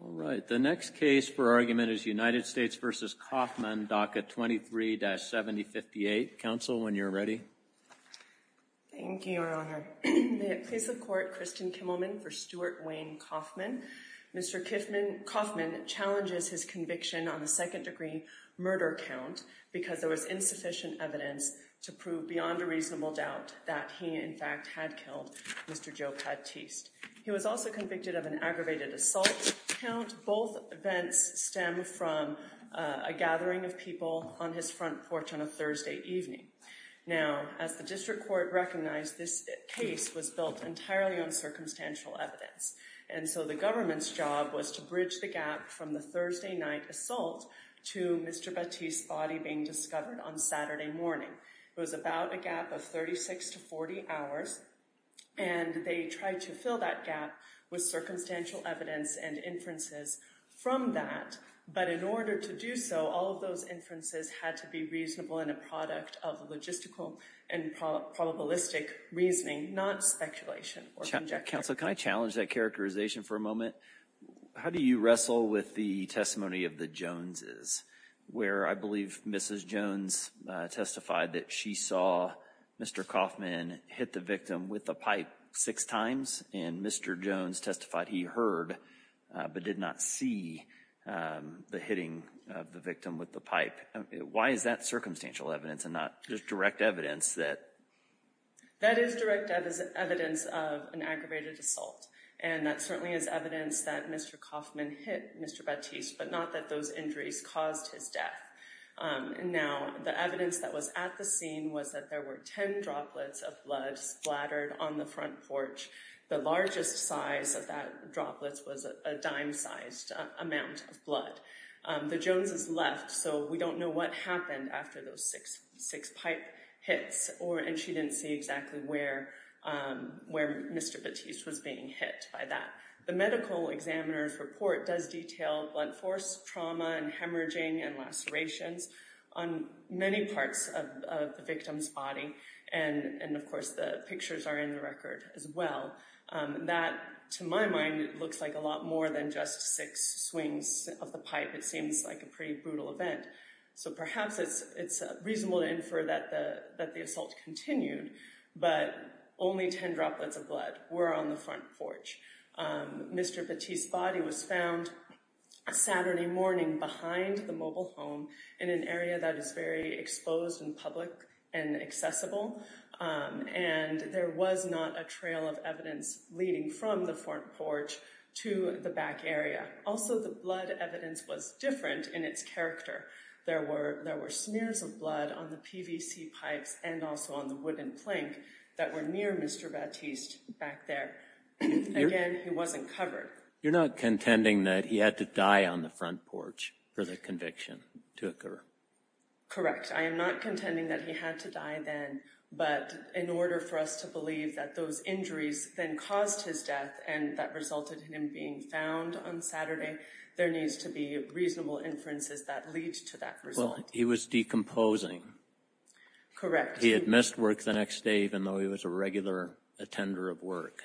All right, the next case for argument is United States v. Coffman, DACA 23-7058. Counsel, when you're ready. Thank you, Your Honor. May it please the Court, Kristen Kimmelman for Stuart Wayne Coffman. Mr. Coffman challenges his conviction on the second-degree murder count because there was insufficient evidence to prove beyond a reasonable doubt that he, in fact, had killed Mr. Joe Patiste. He was also convicted of an aggravated assault count. Both events stem from a gathering of people on his front porch on a Thursday evening. Now, as the district court recognized, this case was built entirely on circumstantial evidence, and so the government's job was to bridge the gap from the Thursday night assault to Mr. Patiste's body being discovered on Saturday morning. It was about a gap of 36 to 40 hours, and they tried to fill that gap with circumstantial evidence and inferences from that. But in order to do so, all of those inferences had to be reasonable and a product of logistical and probabilistic reasoning, not speculation or conjecture. Counsel, can I challenge that characterization for a moment? How do you wrestle with the testimony of the Joneses, where I believe Mrs. Jones testified that she saw Mr. Kaufman hit the victim with a pipe six times, and Mr. Jones testified he heard but did not see the hitting of the victim with the pipe? Why is that circumstantial evidence and not just direct evidence that— That is direct evidence of an aggravated assault, and that certainly is evidence that Mr. Kaufman hit Mr. Patiste, but not that those injuries caused his death. Now, the evidence that was at the scene was that there were ten droplets of blood splattered on the front porch. The largest size of that droplet was a dime-sized amount of blood. The Joneses left, so we don't know what happened after those six pipe hits, and she didn't see exactly where Mr. Patiste was being hit by that. The medical examiner's report does detail blood force trauma and hemorrhaging and lacerations on many parts of the victim's body, and of course the pictures are in the record as well. That, to my mind, looks like a lot more than just six swings of the pipe. It seems like a pretty brutal event. So perhaps it's reasonable to infer that the assault continued, but only ten droplets of blood were on the front porch. Mr. Patiste's body was found Saturday morning behind the mobile home in an area that is very exposed and public and accessible, and there was not a trail of evidence leading from the front porch to the back area. Also, the blood evidence was different in its character. There were smears of blood on the PVC pipes and also on the wooden plank that were near Mr. Patiste back there. Again, he wasn't covered. You're not contending that he had to die on the front porch for the conviction to occur? Correct. I am not contending that he had to die then, but in order for us to believe that those injuries then caused his death and that resulted in him being found on Saturday, there needs to be reasonable inferences that lead to that result. Well, he was decomposing. Correct. He had missed work the next day even though he was a regular attender of work.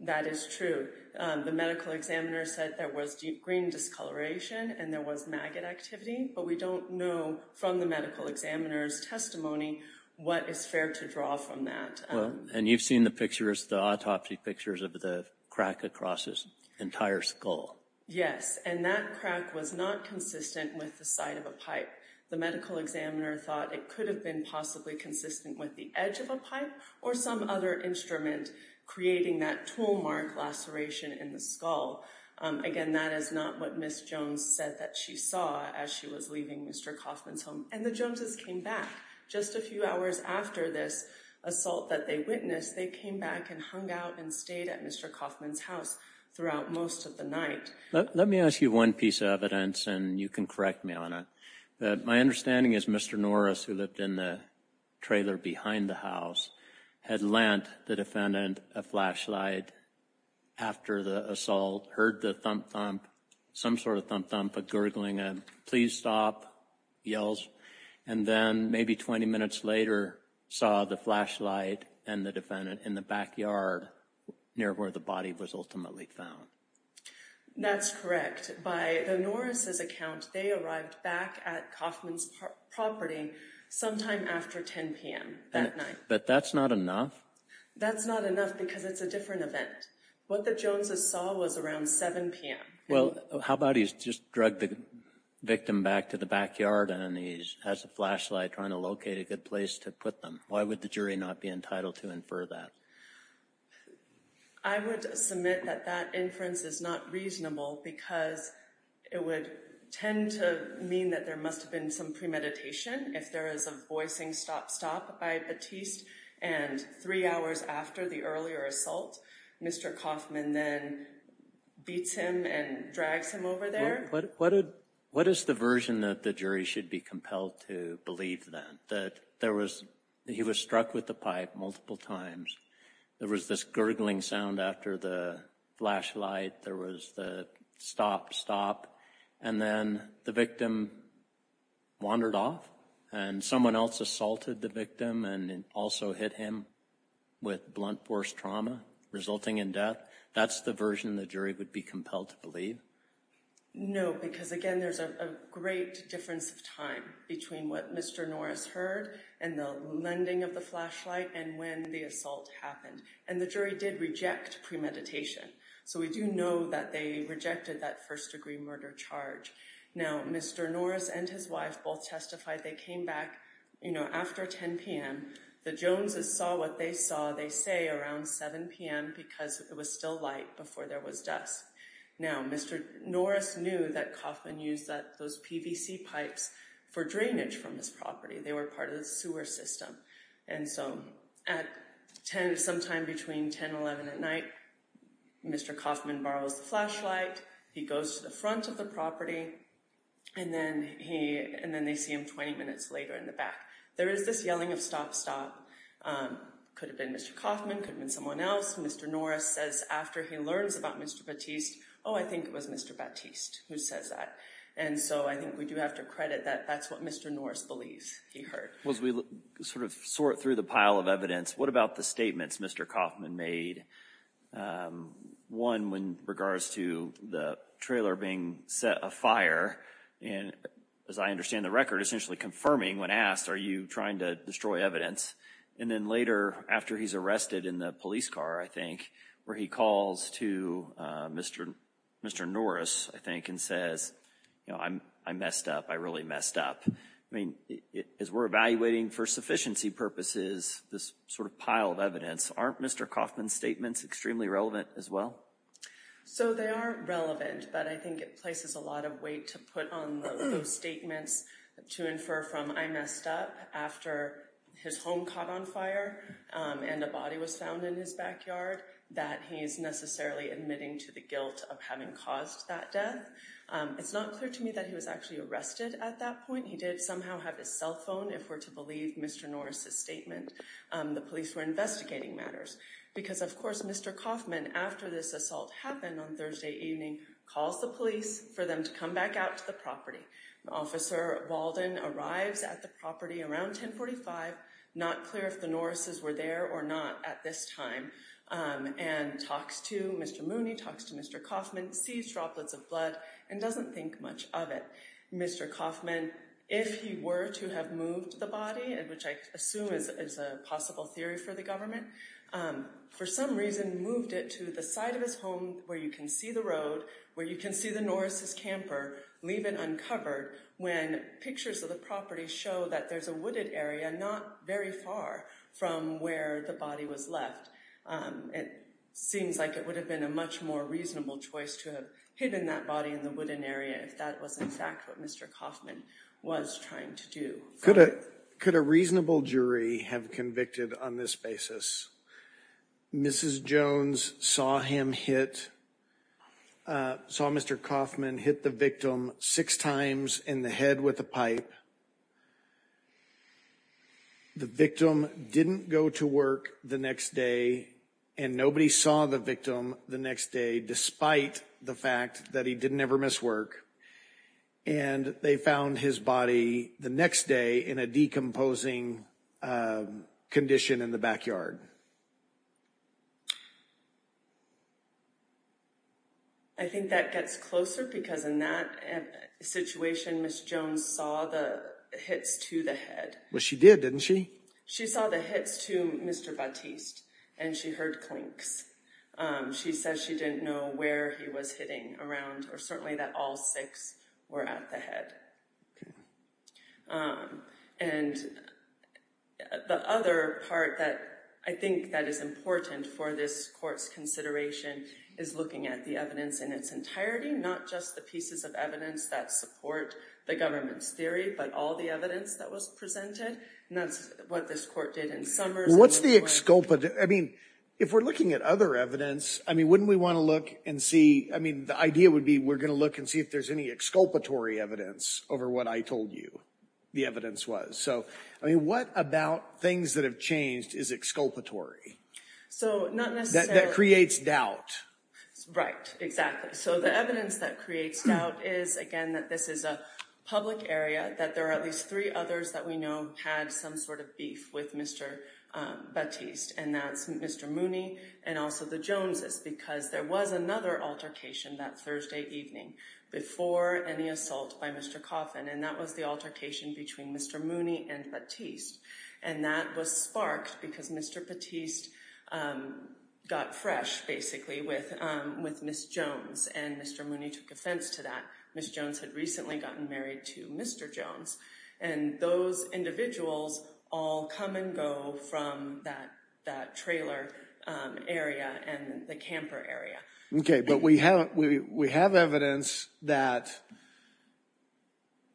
That is true. The medical examiner said there was green discoloration and there was maggot activity, but we don't know from the medical examiner's testimony what is fair to draw from that. And you've seen the autopsy pictures of the crack across his entire skull? Yes, and that crack was not consistent with the side of a pipe. The medical examiner thought it could have been possibly consistent with the edge of a pipe or some other instrument creating that tool mark laceration in the skull. Again, that is not what Ms. Jones said that she saw as she was leaving Mr. Kauffman's home. And the Joneses came back. Just a few hours after this assault that they witnessed, they came back and hung out and stayed at Mr. Kauffman's house throughout most of the night. Let me ask you one piece of evidence and you can correct me on it. My understanding is Mr. Norris, who lived in the trailer behind the house, had lent the defendant a flashlight after the assault, heard the thump-thump, some sort of thump-thump, a gurgling, a please stop, yells, and then maybe 20 minutes later saw the flashlight and the defendant in the backyard near where the body was ultimately found. That's correct. By the Norris' account, they arrived back at Kauffman's property sometime after 10 p.m. that night. But that's not enough? That's not enough because it's a different event. What the Joneses saw was around 7 p.m. Well, how about he's just drug the victim back to the backyard and he has a flashlight trying to locate a good place to put them? Why would the jury not be entitled to infer that? I would submit that that inference is not reasonable because it would tend to mean that there must have been some premeditation if there is a voicing stop-stop by Batiste. And three hours after the earlier assault, Mr. Kauffman then beats him and drags him over there. What is the version that the jury should be compelled to believe then? That he was struck with the pipe multiple times, there was this gurgling sound after the flashlight, there was the stop-stop, and then the victim wandered off and someone else assaulted the victim and also hit him with blunt force trauma resulting in death? That's the version the jury would be compelled to believe? No, because again there's a great difference of time between what Mr. Norris heard and the lending of the flashlight and when the assault happened. And the jury did reject premeditation. So we do know that they rejected that first-degree murder charge. Now, Mr. Norris and his wife both testified. They came back after 10 p.m. The Joneses saw what they saw, they say around 7 p.m. because it was still light before there was dusk. Now, Mr. Norris knew that Kauffman used those PVC pipes for drainage from his property. They were part of the sewer system. And so sometime between 10 and 11 at night, Mr. Kauffman borrows the flashlight, he goes to the front of the property, and then they see him 20 minutes later in the back. There is this yelling of stop, stop. Could have been Mr. Kauffman, could have been someone else. Mr. Norris says after he learns about Mr. Batiste, oh, I think it was Mr. Batiste who says that. And so I think we do have to credit that that's what Mr. Norris believes he heard. As we sort of sort through the pile of evidence, what about the statements Mr. Kauffman made? One, in regards to the trailer being set afire, and as I understand the record, essentially confirming when asked, are you trying to destroy evidence? And then later, after he's arrested in the police car, I think, where he calls to Mr. Norris, I think, and says, you know, I messed up, I really messed up. I mean, as we're evaluating for sufficiency purposes, this sort of pile of evidence, aren't Mr. Kauffman's statements extremely relevant as well? So they are relevant, but I think it places a lot of weight to put on those statements to infer from, I messed up after his home caught on fire and a body was found in his backyard, that he is necessarily admitting to the guilt of having caused that death. It's not clear to me that he was actually arrested at that point. He did somehow have his cell phone, if we're to believe Mr. Norris's statement. The police were investigating matters because, of course, Mr. Kauffman, after this assault happened on Thursday evening, calls the police for them to come back out to the property. Officer Walden arrives at the property around 1045, not clear if the Norris's were there or not at this time, and talks to Mr. Mooney, talks to Mr. Kauffman, sees droplets of blood and doesn't think much of it. Mr. Kauffman, if he were to have moved the body, which I assume is a possible theory for the government, for some reason moved it to the side of his home where you can see the road, where you can see the Norris's camper, leave it uncovered, when pictures of the property show that there's a wooded area not very far from where the body was left. It seems like it would have been a much more reasonable choice to have hidden that body in the wooded area if that was in fact what Mr. Kauffman was trying to do. Could a reasonable jury have convicted on this basis? Mrs. Jones saw him hit, saw Mr. Kauffman hit the victim six times in the head with a pipe. The victim didn't go to work the next day and nobody saw the victim the next day, despite the fact that he didn't ever miss work. And they found his body the next day in a decomposing condition in the backyard. I think that gets closer because in that situation, Mrs. Jones saw the hits to the head. Well, she did, didn't she? She saw the hits to Mr. Batiste and she heard clinks. She says she didn't know where he was hitting around or certainly that all six were at the head. And the other part that I think that is important for this court's consideration is looking at the evidence in its entirety, not just the pieces of evidence that support the government's theory, but all the evidence that was presented. And that's what this court did in Summers. What's the exculpate? I mean, if we're looking at other evidence, I mean, wouldn't we want to look and see? I mean, the idea would be we're going to look and see if there's any exculpatory evidence over what I told you the evidence was. So, I mean, what about things that have changed is exculpatory? So, not necessarily... That creates doubt. Right, exactly. So, the evidence that creates doubt is, again, that this is a public area, that there are at least three others that we know had some sort of beef with Mr. Batiste. And that's Mr. Mooney and also the Joneses, because there was another altercation that Thursday evening before any assault by Mr. Coffin, and that was the altercation between Mr. Mooney and Batiste. And that was sparked because Mr. Batiste got fresh, basically, with Ms. Jones, and Mr. Mooney took offense to that. Ms. Jones had recently gotten married to Mr. Jones, and those individuals all come and go from that trailer area and the camper area. Okay, but we have evidence that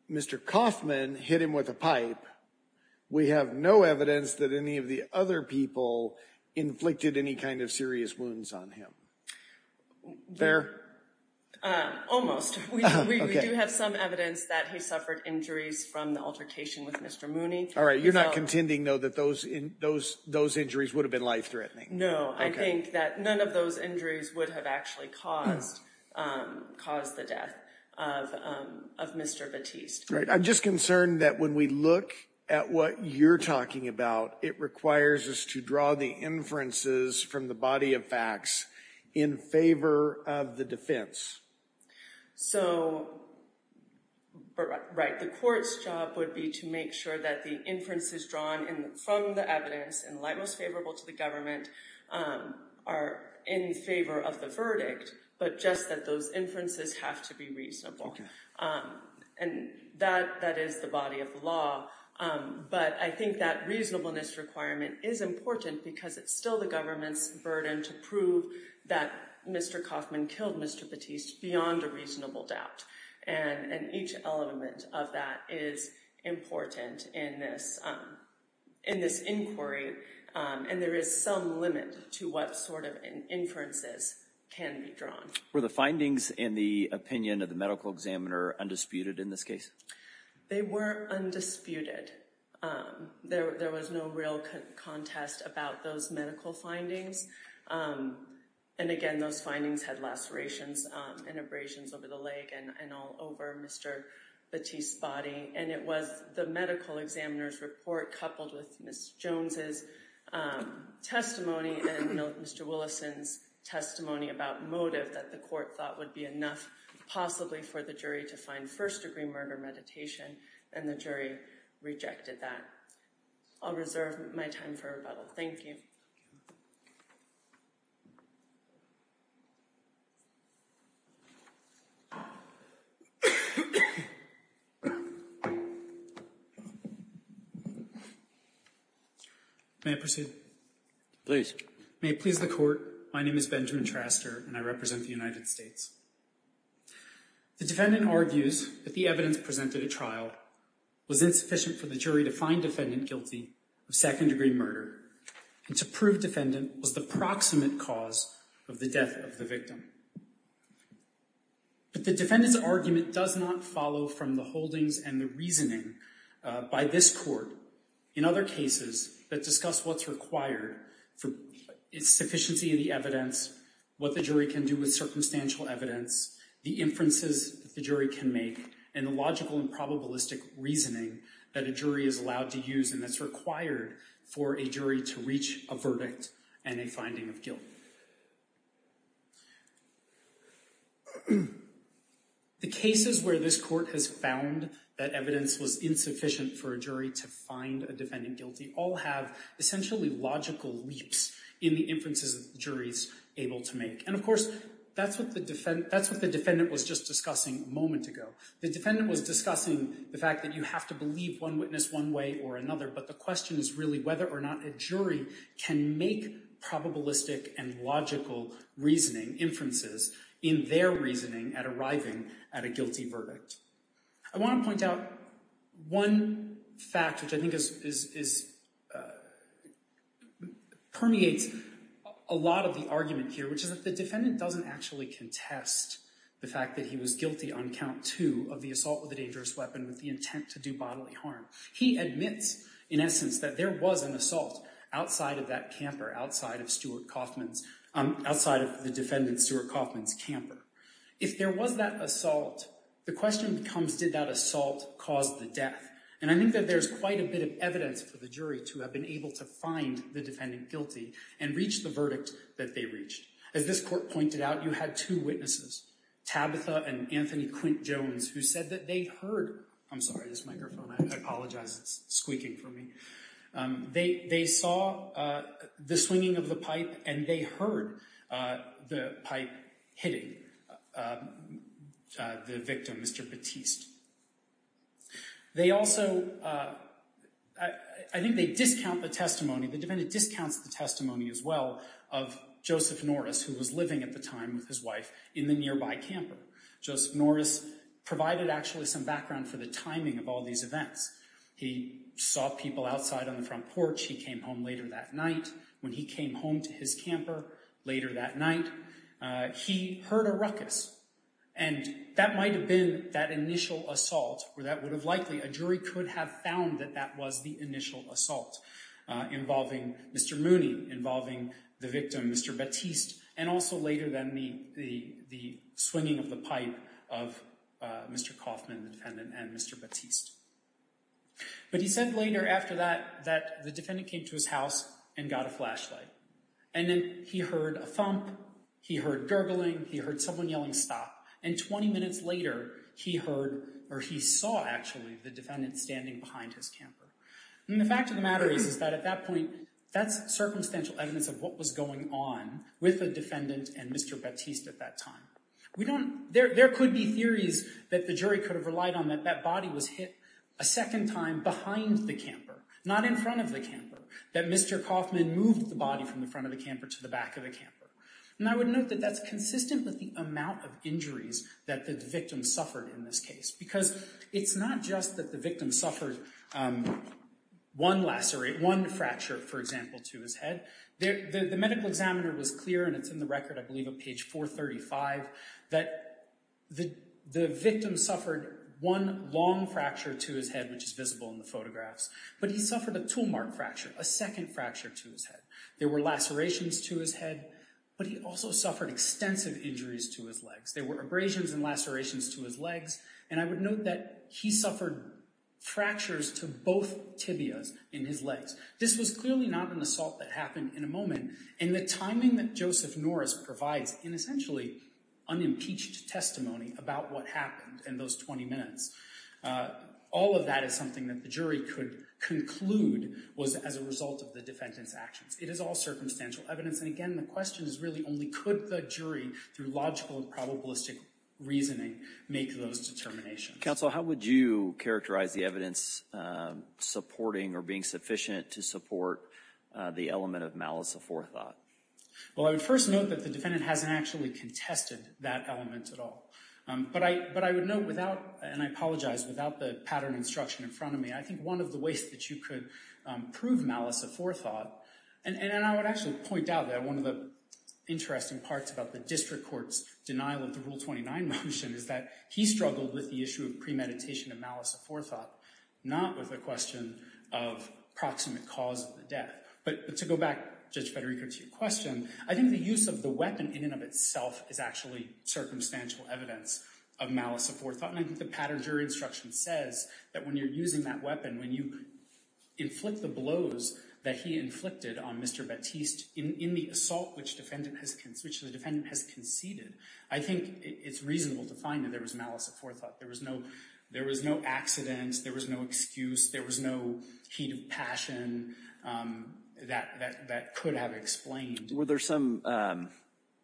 Mr. Coffman hit him with a pipe. We have no evidence that any of the other people inflicted any kind of serious wounds on him. There? Almost. We do have some evidence that he suffered injuries from the altercation with Mr. Mooney. All right. You're not contending, though, that those injuries would have been life-threatening? No. I think that none of those injuries would have actually caused the death of Mr. Batiste. Right. I'm just concerned that when we look at what you're talking about, it requires us to draw the inferences from the body of facts in favor of the defense. The court's job would be to make sure that the inferences drawn from the evidence and lie most favorable to the government are in favor of the verdict, but just that those inferences have to be reasonable. And that is the body of the law. But I think that reasonableness requirement is important because it's still the government's burden to prove that Mr. Coffman killed Mr. Batiste beyond a reasonable doubt. And each element of that is important in this inquiry, and there is some limit to what sort of inferences can be drawn. Were the findings in the opinion of the medical examiner undisputed in this case? They were undisputed. There was no real contest about those medical findings. And, again, those findings had lacerations and abrasions over the leg and all over Mr. Batiste's body. And it was the medical examiner's report coupled with Ms. Jones' testimony and Mr. Willison's testimony about motive that the court thought would be enough, possibly for the jury to find first-degree murder meditation, and the jury rejected that. I'll reserve my time for rebuttal. Thank you. May I proceed? Please. May it please the court, my name is Benjamin Traster, and I represent the United States. The defendant argues that the evidence presented at trial was insufficient for the jury to find defendant guilty of second-degree murder and to prove defendant was the proximate cause of the death of the victim. But the defendant's argument does not follow from the holdings and the reasoning by this court in other cases that discuss what's required for sufficiency of the evidence, what the jury can do with circumstantial evidence, the inferences the jury can make, and the logical and probabilistic reasoning that a jury is allowed to use and that's required for a jury to reach a verdict and a finding of guilt. Thank you. The cases where this court has found that evidence was insufficient for a jury to find a defendant guilty all have essentially logical leaps in the inferences that the jury is able to make. And of course, that's what the defendant was just discussing a moment ago. The defendant was discussing the fact that you have to believe one witness one way or another, but the question is really whether or not a jury can make probabilistic and logical reasoning, inferences in their reasoning at arriving at a guilty verdict. I want to point out one fact which I think permeates a lot of the argument here, which is that the defendant doesn't actually contest the fact that he was guilty on count two of the assault with a dangerous weapon with the intent to do bodily harm. He admits, in essence, that there was an assault outside of that camper, outside of the defendant, Stuart Kaufman's camper. If there was that assault, the question becomes did that assault cause the death? And I think that there's quite a bit of evidence for the jury to have been able to find the defendant guilty and reach the verdict that they reached. As this court pointed out, you had two witnesses, Tabitha and Anthony Quint-Jones, who said that they heard, I'm sorry, this microphone, I apologize, it's squeaking for me, they saw the swinging of the pipe and they heard the pipe hitting the victim, Mr. Batiste. They also, I think they discount the testimony, the defendant discounts the testimony as well of Joseph Norris, who was living at the time with his wife in the nearby camper. Joseph Norris provided actually some background for the timing of all these events. He saw people outside on the front porch. He came home later that night. When he came home to his camper later that night, he heard a ruckus. And that might have been that initial assault or that would have likely, a jury could have found that that was the initial assault involving Mr. Mooney, involving the victim, Mr. Batiste, and also later then the swinging of the pipe of Mr. Kaufman, the defendant, and Mr. Batiste. But he said later after that that the defendant came to his house and got a flashlight. And then he heard a thump. He heard gurgling. He heard someone yelling stop. And 20 minutes later, he heard or he saw actually the defendant standing behind his camper. And the fact of the matter is that at that point, that's circumstantial evidence of what was going on with the defendant and Mr. Batiste at that time. There could be theories that the jury could have relied on that that body was hit a second time behind the camper, not in front of the camper, that Mr. Kaufman moved the body from the front of the camper to the back of the camper. And I would note that that's consistent with the amount of injuries that the victim suffered in this case because it's not just that the victim suffered one fracture, for example, to his head. The medical examiner was clear, and it's in the record, I believe at page 435, that the victim suffered one long fracture to his head, which is visible in the photographs. But he suffered a tool mark fracture, a second fracture to his head. There were lacerations to his head, but he also suffered extensive injuries to his legs. There were abrasions and lacerations to his legs. And I would note that he suffered fractures to both tibias in his legs. This was clearly not an assault that happened in a moment. And the timing that Joseph Norris provides in essentially unimpeached testimony about what happened in those 20 minutes, all of that is something that the jury could conclude was as a result of the defendant's actions. It is all circumstantial evidence. And again, the question is really only could the jury, through logical and probabilistic reasoning, make those determinations. Counsel, how would you characterize the evidence supporting or being sufficient to support the element of malice aforethought? Well, I would first note that the defendant hasn't actually contested that element at all. But I would note without, and I apologize, without the pattern instruction in front of me, I think one of the ways that you could prove malice aforethought, and I would actually point out that one of the interesting parts about the district court's denial of the Rule 29 motion is that he struggled with the issue of premeditation of malice aforethought, not with a question of proximate cause of the death. But to go back, Judge Federico, to your question, I think the use of the weapon in and of itself is actually circumstantial evidence of malice aforethought. And I think the pattern jury instruction says that when you're using that weapon, when you inflict the blows that he inflicted on Mr. Batiste in the assault which the defendant has conceded, I think it's reasonable to find that there was malice aforethought. There was no accident. There was no excuse. There was no heat of passion that could have explained. Were there some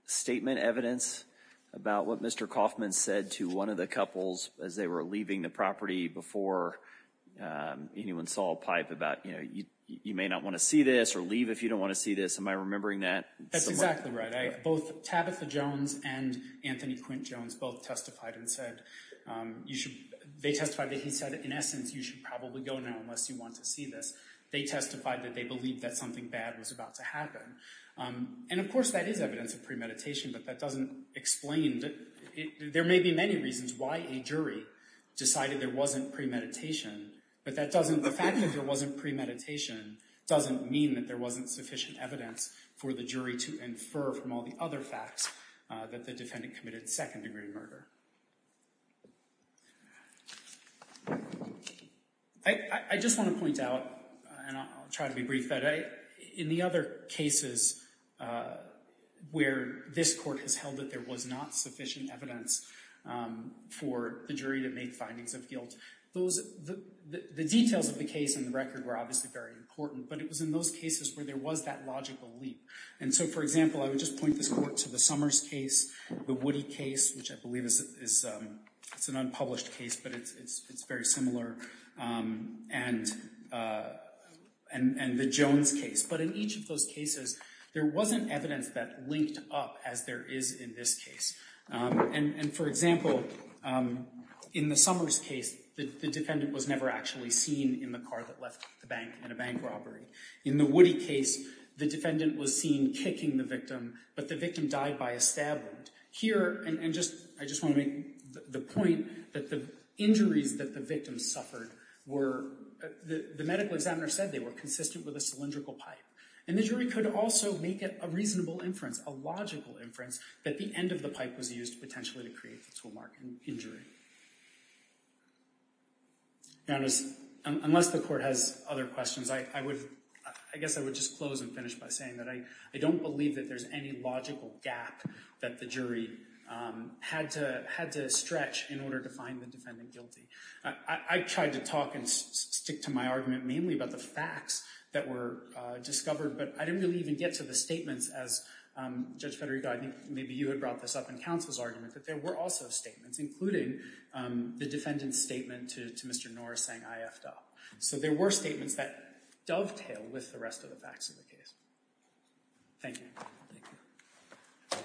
statement evidence about what Mr. Kaufman said to one of the couples as they were leaving the property before anyone saw a pipe about, you know, you may not want to see this or leave if you don't want to see this? Am I remembering that? That's exactly right. Both Tabitha Jones and Anthony Quint Jones both testified and said you should, they testified that he said in essence you should probably go now unless you want to see this. They testified that they believed that something bad was about to happen. And, of course, that is evidence of premeditation, but that doesn't explain, there may be many reasons why a jury decided there wasn't premeditation, but that doesn't, the fact that there wasn't premeditation doesn't mean that there wasn't sufficient evidence for the jury to infer from all the other facts that the defendant committed second-degree murder. I just want to point out, and I'll try to be brief, that in the other cases where this court has held that there was not sufficient evidence for the jury to make findings of guilt, the details of the case and the record were obviously very important, but it was in those cases where there was that logical leap. And so, for example, I would just point this court to the Summers case, the Woody case, which I believe is an unpublished case, but it's very similar, and the Jones case. But in each of those cases, there wasn't evidence that linked up as there is in this case. And, for example, in the Summers case, the defendant was never actually seen in the car that left the bank in a bank robbery. In the Woody case, the defendant was seen kicking the victim, but the victim died by a stab wound. Here, and I just want to make the point that the injuries that the victim suffered were— the medical examiner said they were consistent with a cylindrical pipe. And the jury could also make it a reasonable inference, a logical inference, that the end of the pipe was used potentially to create the tool mark injury. Now, unless the court has other questions, I guess I would just close and finish by saying that I don't believe that there's any logical gap that the jury had to stretch in order to find the defendant guilty. I tried to talk and stick to my argument mainly about the facts that were discovered, but I didn't really even get to the statements as Judge Federico— I think maybe you had brought this up in counsel's argument— that there were also statements, including the defendant's statement to Mr. Norris saying, So there were statements that dovetailed with the rest of the facts of the case. Thank you. Thank you.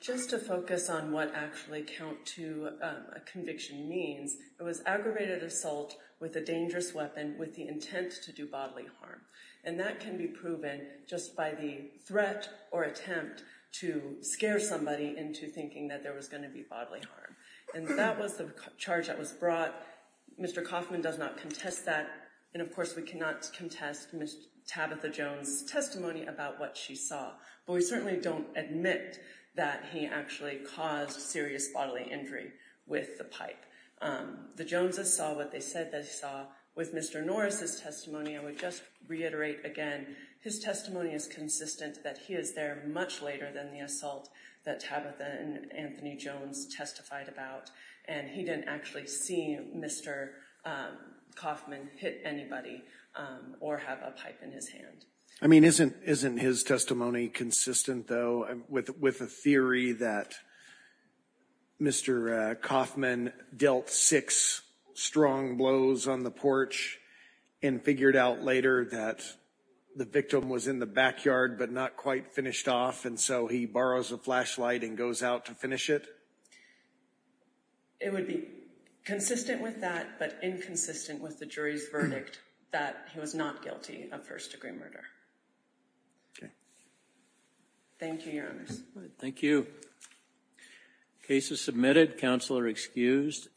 Just to focus on what actually count to a conviction means, it was aggravated assault with a dangerous weapon with the intent to do bodily harm. And that can be proven just by the threat or attempt to scare somebody into thinking that there was going to be bodily harm. And that was the charge that was brought. Mr. Kaufman does not contest that. And, of course, we cannot contest Ms. Tabitha Jones' testimony about what she saw. But we certainly don't admit that he actually caused serious bodily injury with the pipe. The Joneses saw what they said they saw. With Mr. Norris' testimony, I would just reiterate again, his testimony is consistent that he is there much later than the assault that Tabitha and Anthony Jones testified about. And he didn't actually see Mr. Kaufman hit anybody or have a pipe in his hand. I mean, isn't his testimony consistent, though, with a theory that Mr. Kaufman dealt six strong blows on the porch and figured out later that the victim was in the backyard but not quite finished off, and so he borrows a flashlight and goes out to finish it? It would be consistent with that but inconsistent with the jury's verdict that he was not guilty of first-degree murder. Thank you, Your Honors. Thank you. Case is submitted. Counsel are excused.